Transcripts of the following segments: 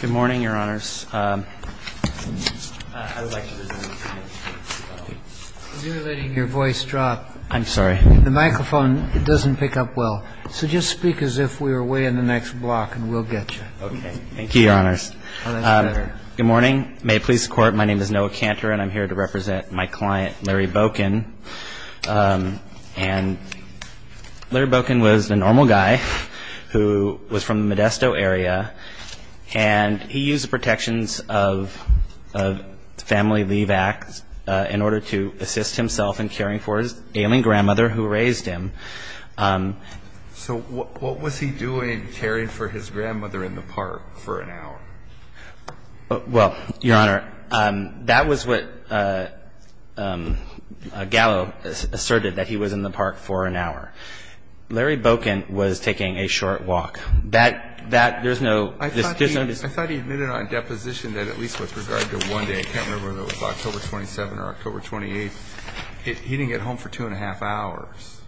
Good morning, Your Honors. You're letting your voice drop. I'm sorry. The microphone doesn't pick up well. So just speak as if we were way in the next block and we'll get you. Okay. Thank you, Your Honors. Good morning. May it please the Court, my name is Noah Cantor and I'm here to represent my client, Larry Boecken. And Larry Boecken was a normal guy who was from the Modesto area and he used the protections of the Family Leave Act in order to assist himself in caring for his ailing grandmother who raised him. So what was he doing caring for his grandmother in the park for an hour? Well, Your Honor, that was what Gallo asserted, that he was in the park for an hour. Larry Boecken was taking a short walk. That, that, there's no dis- I thought he admitted on deposition that at least with regard to one day, I can't remember if it was October 27th or October 28th, he didn't get home for two and a half hours.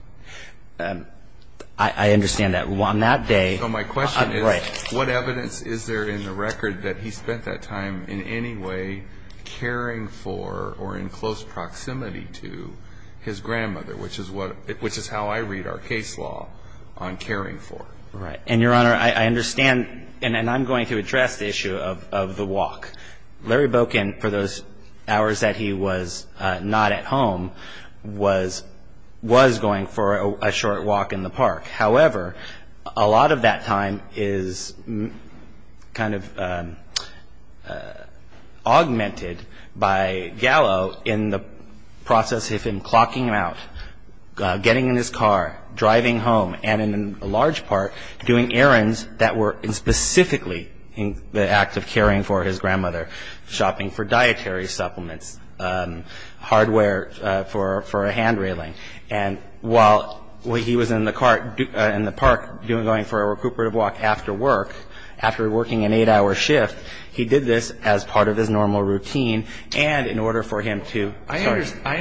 I understand that. Well, on that day- So my question is, what evidence is there in the record that he spent that time in any way caring for or in close proximity to his grandmother, which is what, which is how I read our case law on caring for. Right. And, Your Honor, I understand, and I'm going to address the issue of the walk. Larry Boecken, for those hours that he was not at home, was, was going for a short walk in the park. However, a lot of that time is kind of augmented by Gallo in the process of him clocking out, getting in his car, driving home, and in large part doing errands that were specifically in the act of caring for his grandmother, shopping for dietary supplements, hardware for, for a hand railing. And while he was in the car, in the park going for a recuperative walk after work, after working an eight-hour shift, he did this as part of his normal routine and in order for him to- I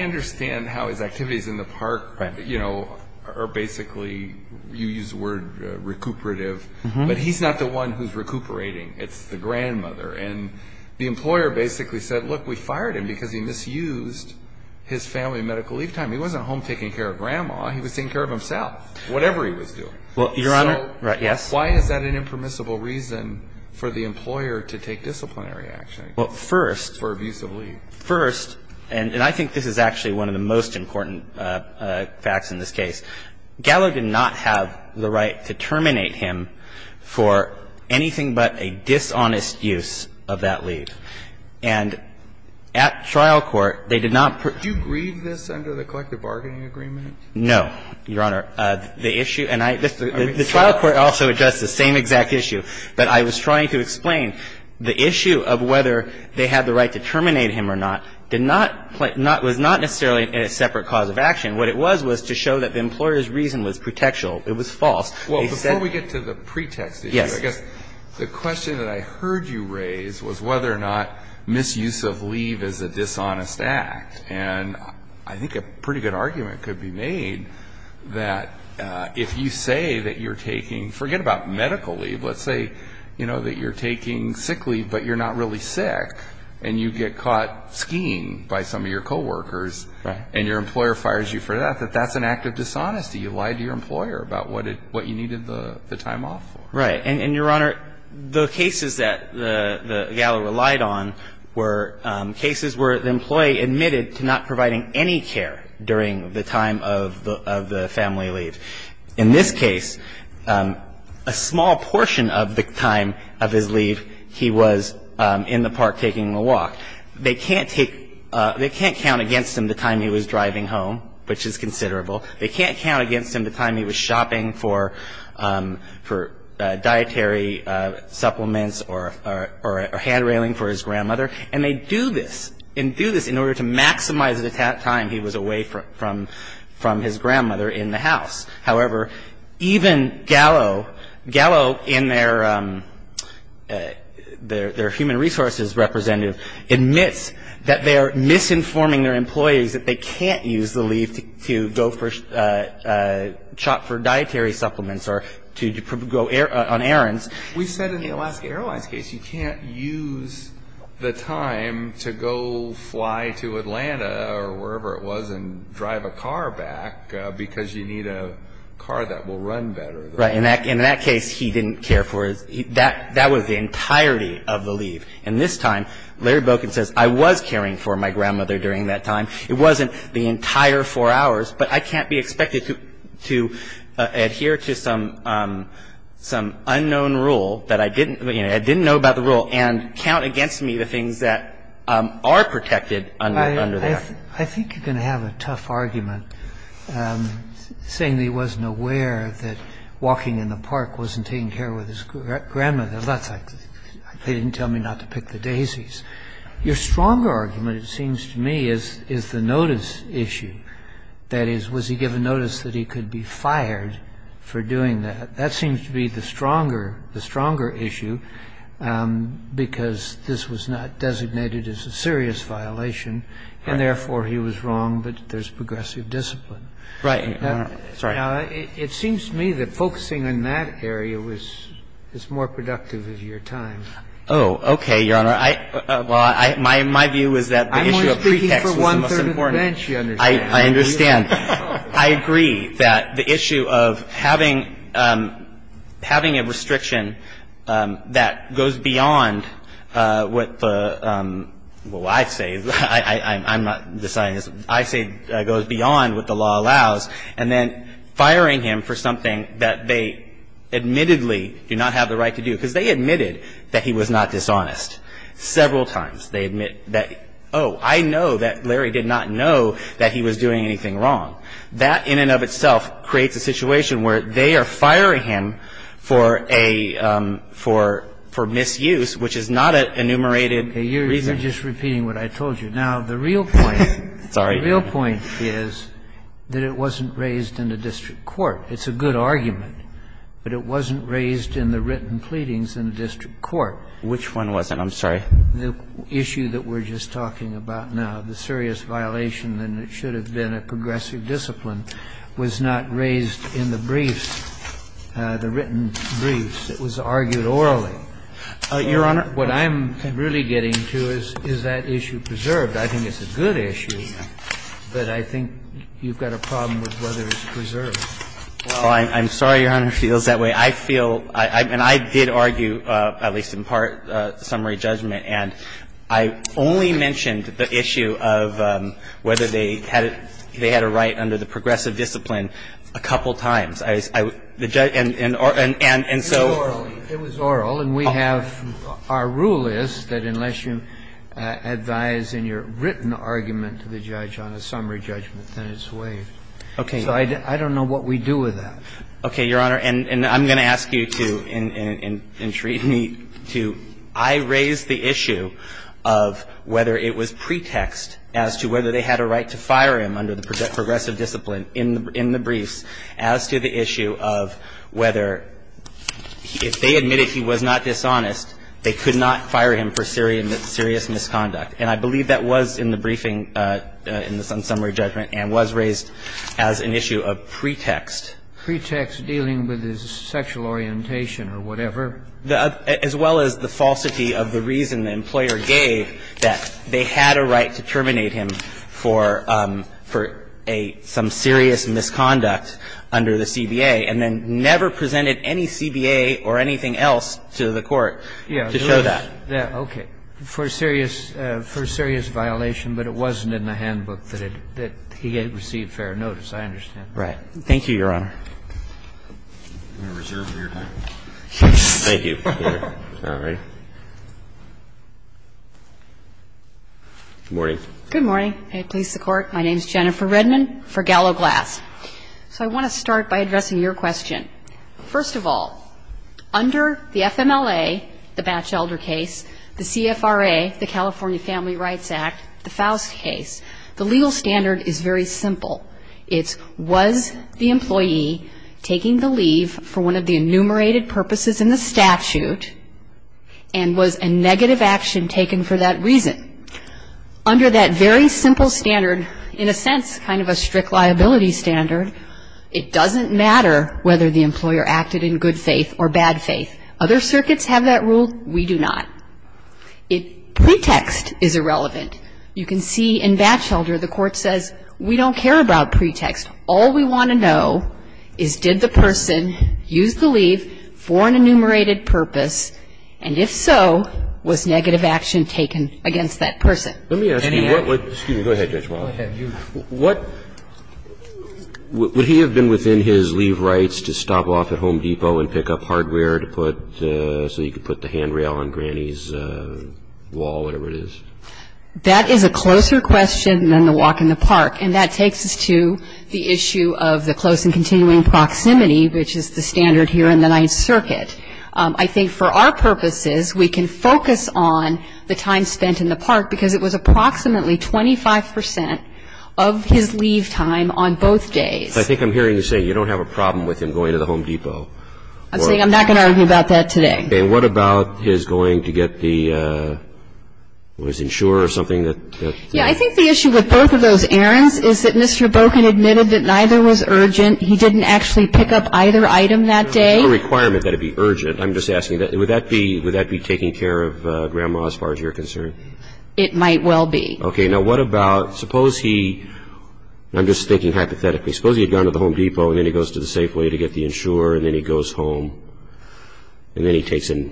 understand how his activities in the park, you know, are basically, you use the word recuperative, but he's not the one who's recuperating. It's the grandmother. And the employer basically said, look, we fired him because he misused his family medical leave time. He wasn't home taking care of grandma. He was taking care of himself, whatever he was doing. So why is that an impermissible reason for the employer to take disciplinary action? Well, first- For abuse of leave. First, and I think this is actually one of the most important facts in this case, Gallo did not have the right to terminate him for anything but a dishonest use of that leave. And at trial court, they did not- Do you grieve this under the collective bargaining agreement? No, Your Honor. The issue, and I- I mean- The trial court also addressed the same exact issue, but I was trying to explain the issue of whether they had the right to terminate him or not did not-was not necessarily a separate cause of action. What it was was to show that the employer's reason was pretextual. It was false. Well, before we get to the pretext issue- Yes. I guess the question that I heard you raise was whether or not misuse of leave is a dishonest act. And I think a pretty good argument could be made that if you say that you're taking-forget about medical leave. Let's say, you know, that you're taking sick leave but you're not really sick and you get caught skiing by some of your coworkers- Right. And your employer fires you for that, that that's an act of dishonesty. You lied to your employer about what you needed the time off for. Right. And, Your Honor, the cases that Gallo relied on were cases where the employee admitted to not providing any care during the time of the family leave. In this case, a small portion of the time of his leave he was in the park taking a walk. They can't take-they can't count against him the time he was driving home, which is considerable. They can't count against him the time he was shopping for dietary supplements or hand railing for his grandmother. And they do this, and do this in order to maximize the time he was away from his grandmother in the house. However, even Gallo, Gallo in their human resources representative, admits that they are misinforming their employees that they can't use the leave to go shop for dietary supplements or to go on errands. We said in the Alaska Airlines case you can't use the time to go fly to Atlanta or wherever it was and drive a car back because you need a car that will run better. Right. In that case, he didn't care for his-that was the entirety of the leave. And this time, Larry Boken says I was caring for my grandmother during that time. It wasn't the entire four hours, but I can't be expected to adhere to some unknown rule that I didn't-you know, I didn't know about the rule and count against me the things that are protected under that. I think you're going to have a tough argument saying that he wasn't aware that walking in the park wasn't taking care of his grandmother. That's like they didn't tell me not to pick the daisies. Your stronger argument, it seems to me, is the notice issue. That is, was he given notice that he could be fired for doing that? That seems to be the stronger-the stronger issue because this was not designated as a serious violation, and therefore he was wrong, but there's progressive discipline. Right. Sorry. Now, it seems to me that focusing on that area was-is more productive of your time. Oh, okay, Your Honor. I-well, I-my view is that the issue of pretext was the most important. I'm only speaking for one-third of the bench, you understand. I understand. I agree that the issue of having-having a restriction that goes beyond what the-well, I say-I-I'm not deciding this-I say goes beyond what the law allows, and then firing him for something that they admittedly do not have the right to do, because they admitted that he was not dishonest. Several times they admit that, oh, I know that Larry did not know that he was doing anything wrong. That in and of itself creates a situation where they are firing him for a-for-for misuse, which is not an enumerated reason. I'm just repeating what I told you. Now, the real point- Sorry. The real point is that it wasn't raised in the district court. It's a good argument, but it wasn't raised in the written pleadings in the district court. Which one wasn't? I'm sorry. The issue that we're just talking about now, the serious violation, and it should have been a progressive discipline, was not raised in the briefs, the written briefs. It was argued orally. Your Honor- What I'm really getting to is, is that issue preserved? I think it's a good issue, but I think you've got a problem with whether it's preserved. Well, I'm sorry, Your Honor, if it feels that way. I feel and I did argue, at least in part, summary judgment, and I only mentioned the issue of whether they had it they had a right under the progressive discipline a couple times. And so- It was oral. And we have, our rule is that unless you advise in your written argument to the judge on a summary judgment, then it's waived. Okay. So I don't know what we do with that. Okay, Your Honor, and I'm going to ask you to, and treat me to, I raised the issue of whether it was pretext as to whether they had a right to fire him under the progressive discipline in the briefs as to the issue of whether, if they admitted he wasn't dishonest, they could not fire him for serious misconduct. And I believe that was in the briefing in the summary judgment and was raised as an issue of pretext. Pretext dealing with his sexual orientation or whatever. As well as the falsity of the reason the employer gave that they had a right to terminate him for a, some serious misconduct under the CBA and then never presented any CBA or anything else to the court to show that. Okay. For serious, for serious violation, but it wasn't in the handbook that he had received fair notice, I understand. Right. Thank you, Your Honor. Thank you. All right. Good morning. Good morning. And it pleases the Court. My name is Jennifer Redman for Gallo Glass. So I want to start by addressing your question. First of all, under the FMLA, the Batchelder case, the CFRA, the California Family Rights Act, the Faust case, the legal standard is very simple. It's was the employee taking the leave for one of the enumerated purposes in the statute and was a negative action taken for that reason? Under that very simple standard, in a sense, kind of a strict liability standard, it doesn't matter whether the employer acted in good faith or bad faith. Other circuits have that rule. We do not. It, pretext is irrelevant. You can see in Batchelder, the court says, we don't care about pretext. All we want to know is did the person use the leave for an enumerated purpose? And if so, was negative action taken against that person? Let me ask you, what would, excuse me, go ahead, Judge Marlowe. What, would he have been within his leave rights to stop off at Home Depot and pick up hardware to put, so he could put the handrail on Granny's wall, whatever it is? That is a closer question than the walk in the park. And that takes us to the issue of the close and continuing proximity, which is the standard here in the Ninth Circuit. I think for our purposes, we can focus on the time spent in the park, because it was approximately 25% of his leave time on both days. I think I'm hearing you say you don't have a problem with him going to the Home Depot. I'm saying I'm not going to argue about that today. And what about his going to get the, what is it, insurer or something that? Yeah, I think the issue with both of those errands is that Mr. Boken admitted that neither was urgent. He didn't actually pick up either item that day. There's no requirement that it be urgent. I'm just asking, would that be taking care of Grandma as far as you're concerned? It might well be. Okay, now what about, suppose he, and I'm just thinking hypothetically, suppose he had gone to the Home Depot and then he goes to the Safeway to get the insurer, and then he goes home, and then he takes a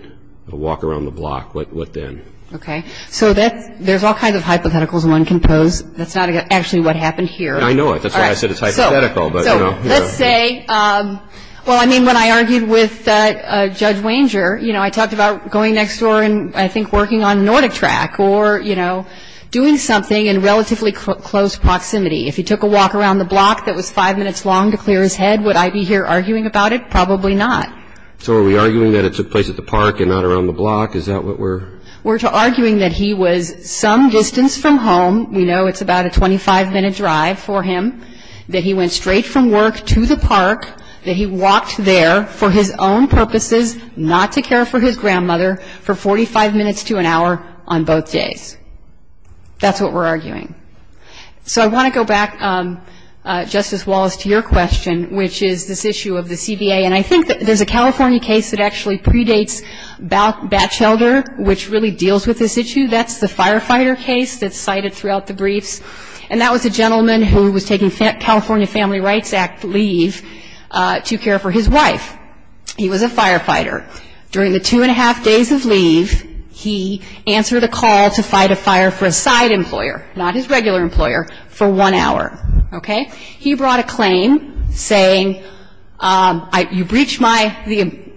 walk around the block. What then? Okay, so there's all kinds of hypotheticals one can pose. That's not actually what happened here. I know it. That's why I said it's hypothetical. So let's say, well, I mean, when I argued with Judge Wanger, you know, I talked about going next door and I think working on the Nordic track or, you know, doing something in relatively close proximity. If he took a walk around the block that was five minutes long to clear his head, would I be here arguing about it? Probably not. So are we arguing that it took place at the park and not around the block? Is that what we're? We're arguing that he was some distance from home. We know it's about a 25-minute drive for him, that he went straight from work to the park, that he walked there for his own purposes, not to care for his grandmother, for 45 minutes to an hour on both days. That's what we're arguing. So I want to go back, Justice Wallace, to your question, which is this issue of the CBA. And I think that there's a California case that actually predates Batchelder, which really deals with this issue. That's the firefighter case that's cited throughout the briefs. And that was a gentleman who was taking California Family Rights Act leave to care for his wife. He was a firefighter. During the two-and-a-half days of leave, he answered a call to fight a fire for a side employer, not his regular employer, for one hour, okay? He brought a claim saying, you breached an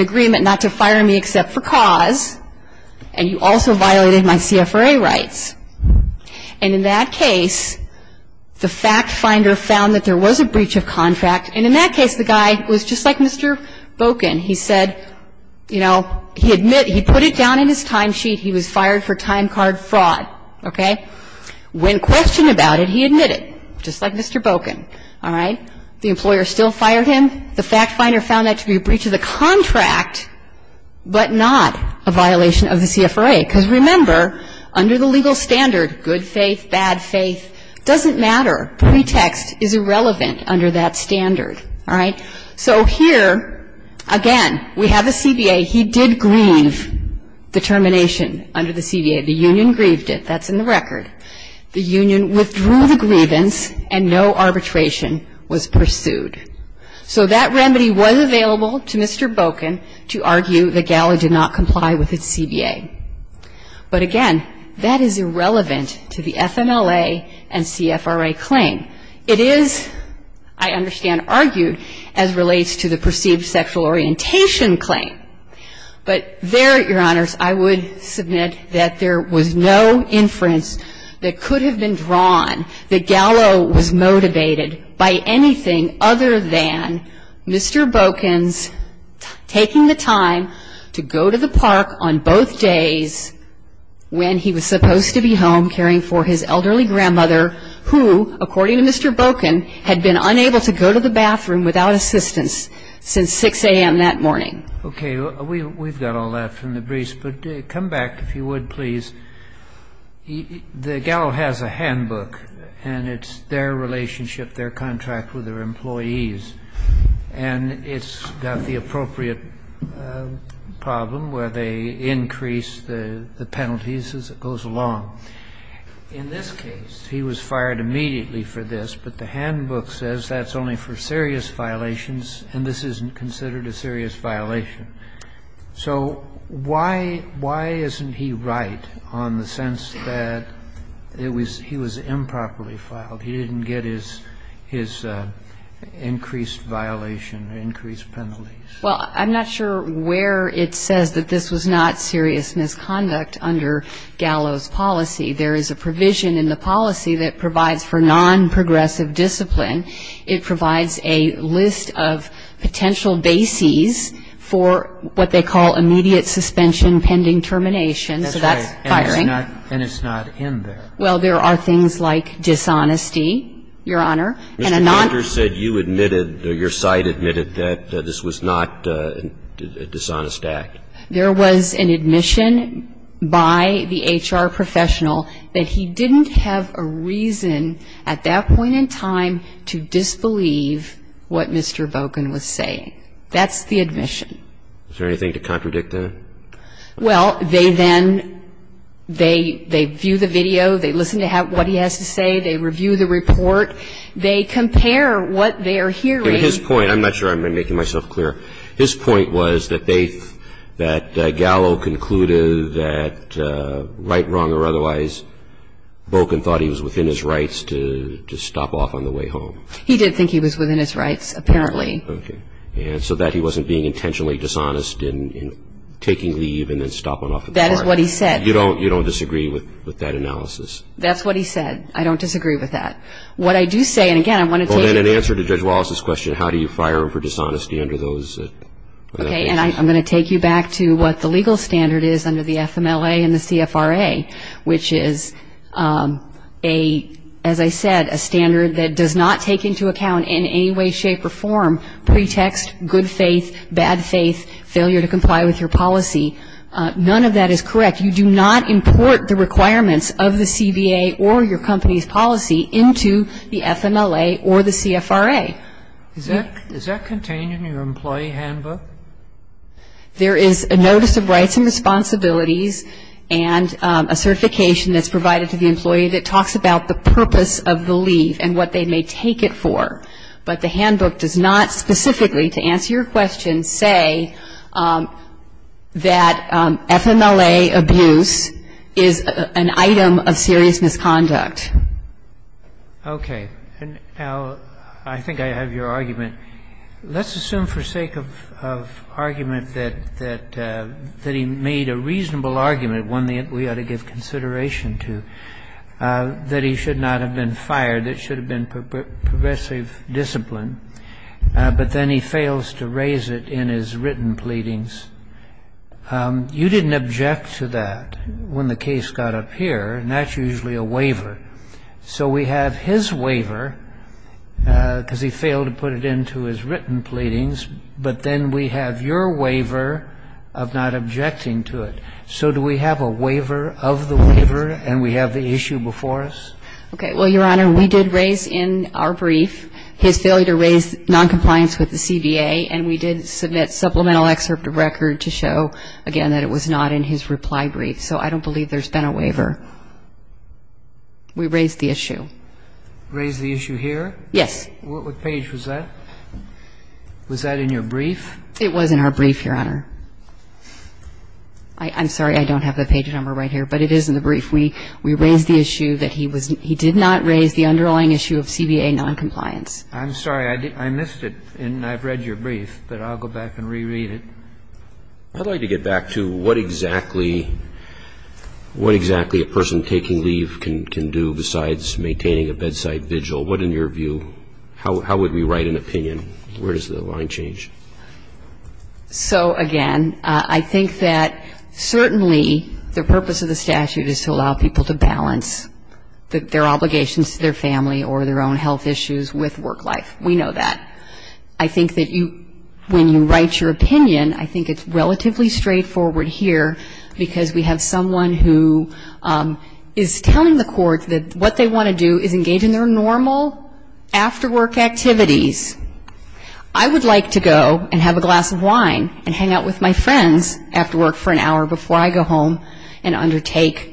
agreement not to fire me except for cause, and you also violated my CFRA rights. And in that case, the fact finder found that there was a breach of contract. And in that case, the guy was just like Mr. Boken. He said, you know, he admitted, he put it down in his time sheet he was fired for time card fraud, okay? When questioned about it, he admitted, just like Mr. Boken, all right? The employer still fired him. The fact finder found that to be a breach of the contract, but not a violation of the CFRA. Because remember, under the legal standard, good faith, bad faith, doesn't matter. Pretext is irrelevant under that standard, all right? So here, again, we have the CBA. He did grieve the termination under the CBA. The union grieved it. That's in the record. The union withdrew the grievance, and no arbitration was pursued. So that remedy was available to Mr. Boken to argue that Gallo did not comply with its CBA. But again, that is irrelevant to the FMLA and CFRA claim. It is, I understand, argued as relates to the perceived sexual orientation claim. But there, Your Honors, I would submit that there was no inference that could have been drawn that Gallo was motivated by anything other than Mr. Boken's taking the time to go to the park on both days when he was supposed to be home caring for his elderly grandmother, who, according to Mr. Boken, had been unable to go to the bathroom without assistance since 6 a.m. that morning. Okay. We've got all that from the briefs, but come back, if you would, please. The Gallo has a handbook, and it's their relationship, their contract with their employees. And it's got the appropriate problem where they increase the penalties as it goes along. In this case, he was fired immediately for this, but the handbook says that's only for serious violations, and this isn't considered a serious violation. So why isn't he right on the sense that he was improperly filed? He didn't get his increased violation, increased penalties? Well, I'm not sure where it says that this was not serious misconduct under Gallo's policy. There is a provision in the policy that provides for non-progressive discipline. It provides a list of potential bases for what they call immediate suspension pending termination. So that's firing. And it's not in there. Well, there are things like dishonesty, Your Honor. Mr. Porter said you admitted, your site admitted, that this was not a dishonest act. There was an admission by the HR professional that he didn't have a reason at that point in time to disbelieve what Mr. Boken was saying. That's the admission. Is there anything to contradict that? Well, they then, they view the video, they listen to what he has to say, they review the report, they compare what they are hearing. His point, I'm not sure I'm making myself clear, his point was that they, that Gallo concluded that right, wrong, or otherwise, Boken thought he was within his rights to stop off on the way home. He did think he was within his rights, apparently. Okay. And so that he wasn't being intentionally dishonest in taking leave and then stopping off at the park. That is what he said. You don't disagree with that analysis? That's what he said. I don't disagree with that. What I do say, and again, I want to take it. Well, then, in answer to Judge Wallace's question, how do you fire him for dishonesty under those? Okay, and I'm going to take you back to what the legal standard is under the FMLA and the CFRA, which is a, as I said, a standard that does not take into account in any way, shape, or form, pretext, good faith, bad faith, failure to comply with your policy. None of that is correct. You do not import the requirements of the CBA or your company's policy into the FMLA or the CFRA. Is that contained in your employee handbook? There is a notice of rights and responsibilities and a certification that's provided to the employee that talks about the purpose of the leave and what they may take it for. But the handbook does not specifically, to answer your question, say that FMLA abuse is an item of serious misconduct. Okay. And, Al, I think I have your argument. Let's assume for sake of argument that he made a reasonable argument, one that we ought to give consideration to, that he should not have been fired. It should have been progressive discipline. But then he fails to raise it in his written pleadings. You didn't object to that when the case got up here, and that's usually a waiver. So we have his waiver, because he failed to put it into his written pleadings, but then we have your waiver of not objecting to it. So do we have a waiver of the waiver, and we have the issue before us? Okay. Well, Your Honor, we did raise in our brief his failure to raise noncompliance with the CBA, and we did submit supplemental excerpt of record to show, again, that it was not in his reply brief. So I don't believe there's been a waiver. We raised the issue. Raised the issue here? Yes. What page was that? Was that in your brief? It was in our brief, Your Honor. I'm sorry, I don't have the page number right here, but it is in the brief. We raised the issue that he did not raise the underlying issue of CBA noncompliance. I'm sorry, I missed it, and I've read your brief, but I'll go back and reread it. I'd like to get back to what exactly a person taking leave can do besides maintaining a bedside vigil. What, in your view, how would we write an opinion? Where does the line change? So, again, I think that certainly the purpose of the statute is to allow people to balance their obligations to their family or their own health issues with work life. We know that. I think that when you write your opinion, I think it's relatively straightforward here because we have someone who is telling the court that what they want to do is engage in their normal after work activities. I would like to go and have a glass of wine and hang out with my friends after work for an hour before I go home and undertake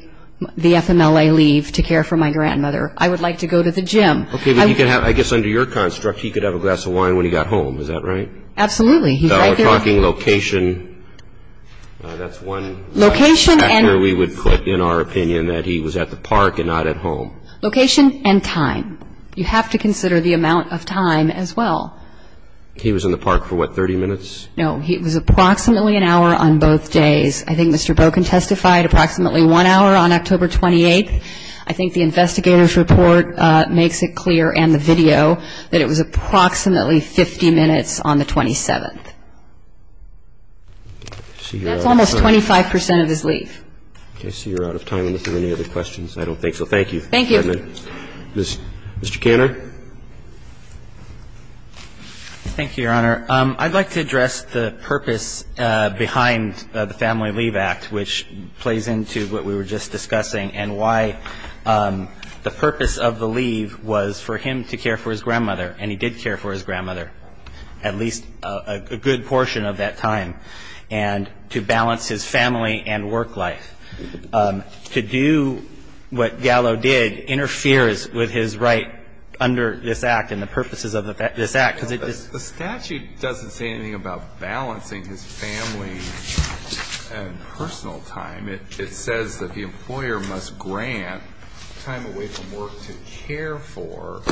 the FMLA leave to care for my grandmother. I would like to go to the gym. Okay, but I guess under your construct, he could have a glass of wine when he got home. Is that right? Absolutely. We're talking location. That's one factor we would put in our opinion that he was at the park and not at home. Location and time. You have to consider the amount of time as well. He was in the park for what, 30 minutes? No, he was approximately an hour on both days. I think Mr. Boken testified approximately one hour on October 28th. I think the investigator's report makes it clear and the video that it was approximately 50 minutes on the 27th. That's almost 25 percent of his leave. Okay, I see you're out of time unless there are any other questions. I don't think so. Thank you. Thank you. Mr. Canner. Thank you, Your Honor. I'd like to address the purpose behind the Family Leave Act, which plays into what we were just discussing and why the purpose of the leave was for him to care for his grandmother, and he did care for his grandmother, at least a good portion of that time, and to balance his family and work life. To do what Gallo did interferes with his right under this act and the purposes of this act. The statute doesn't say anything about balancing his family and personal time. It says that the employer must grant time away from work to care for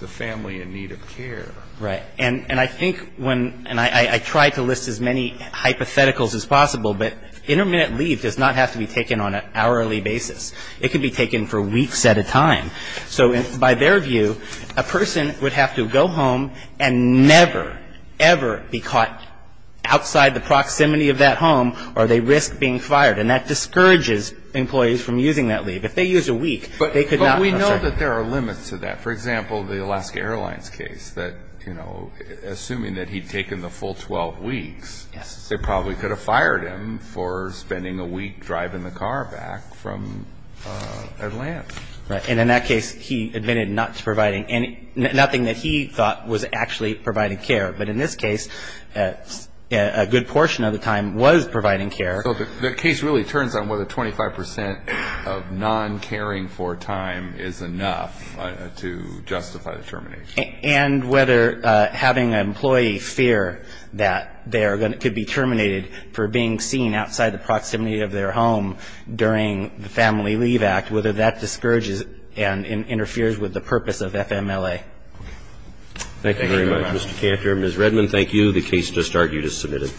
the family in need of care. Right. And I think when – and I try to list as many hypotheticals as possible, but intermittent leave does not have to be taken on an hourly basis. It can be taken for weeks at a time. So by their view, a person would have to go home and never, ever be caught outside the proximity of that home or they risk being fired. And that discourages employees from using that leave. If they use a week, they could not – But we know that there are limits to that. For example, the Alaska Airlines case that, you know, assuming that he'd taken the full 12 weeks, they probably could have fired him for spending a week driving the car back from Atlanta. Right. And in that case, he admitted not providing – nothing that he thought was actually providing care. But in this case, a good portion of the time was providing care. So the case really turns on whether 25 percent of non-caring for time is enough to justify the termination. And whether having an employee fear that they could be terminated for being seen outside the proximity of their home during the Family Leave Act, whether that discourages and interferes with the purpose of FMLA. Thank you very much, Mr. Kanter. Ms. Redman, thank you. The case just argued is submitted.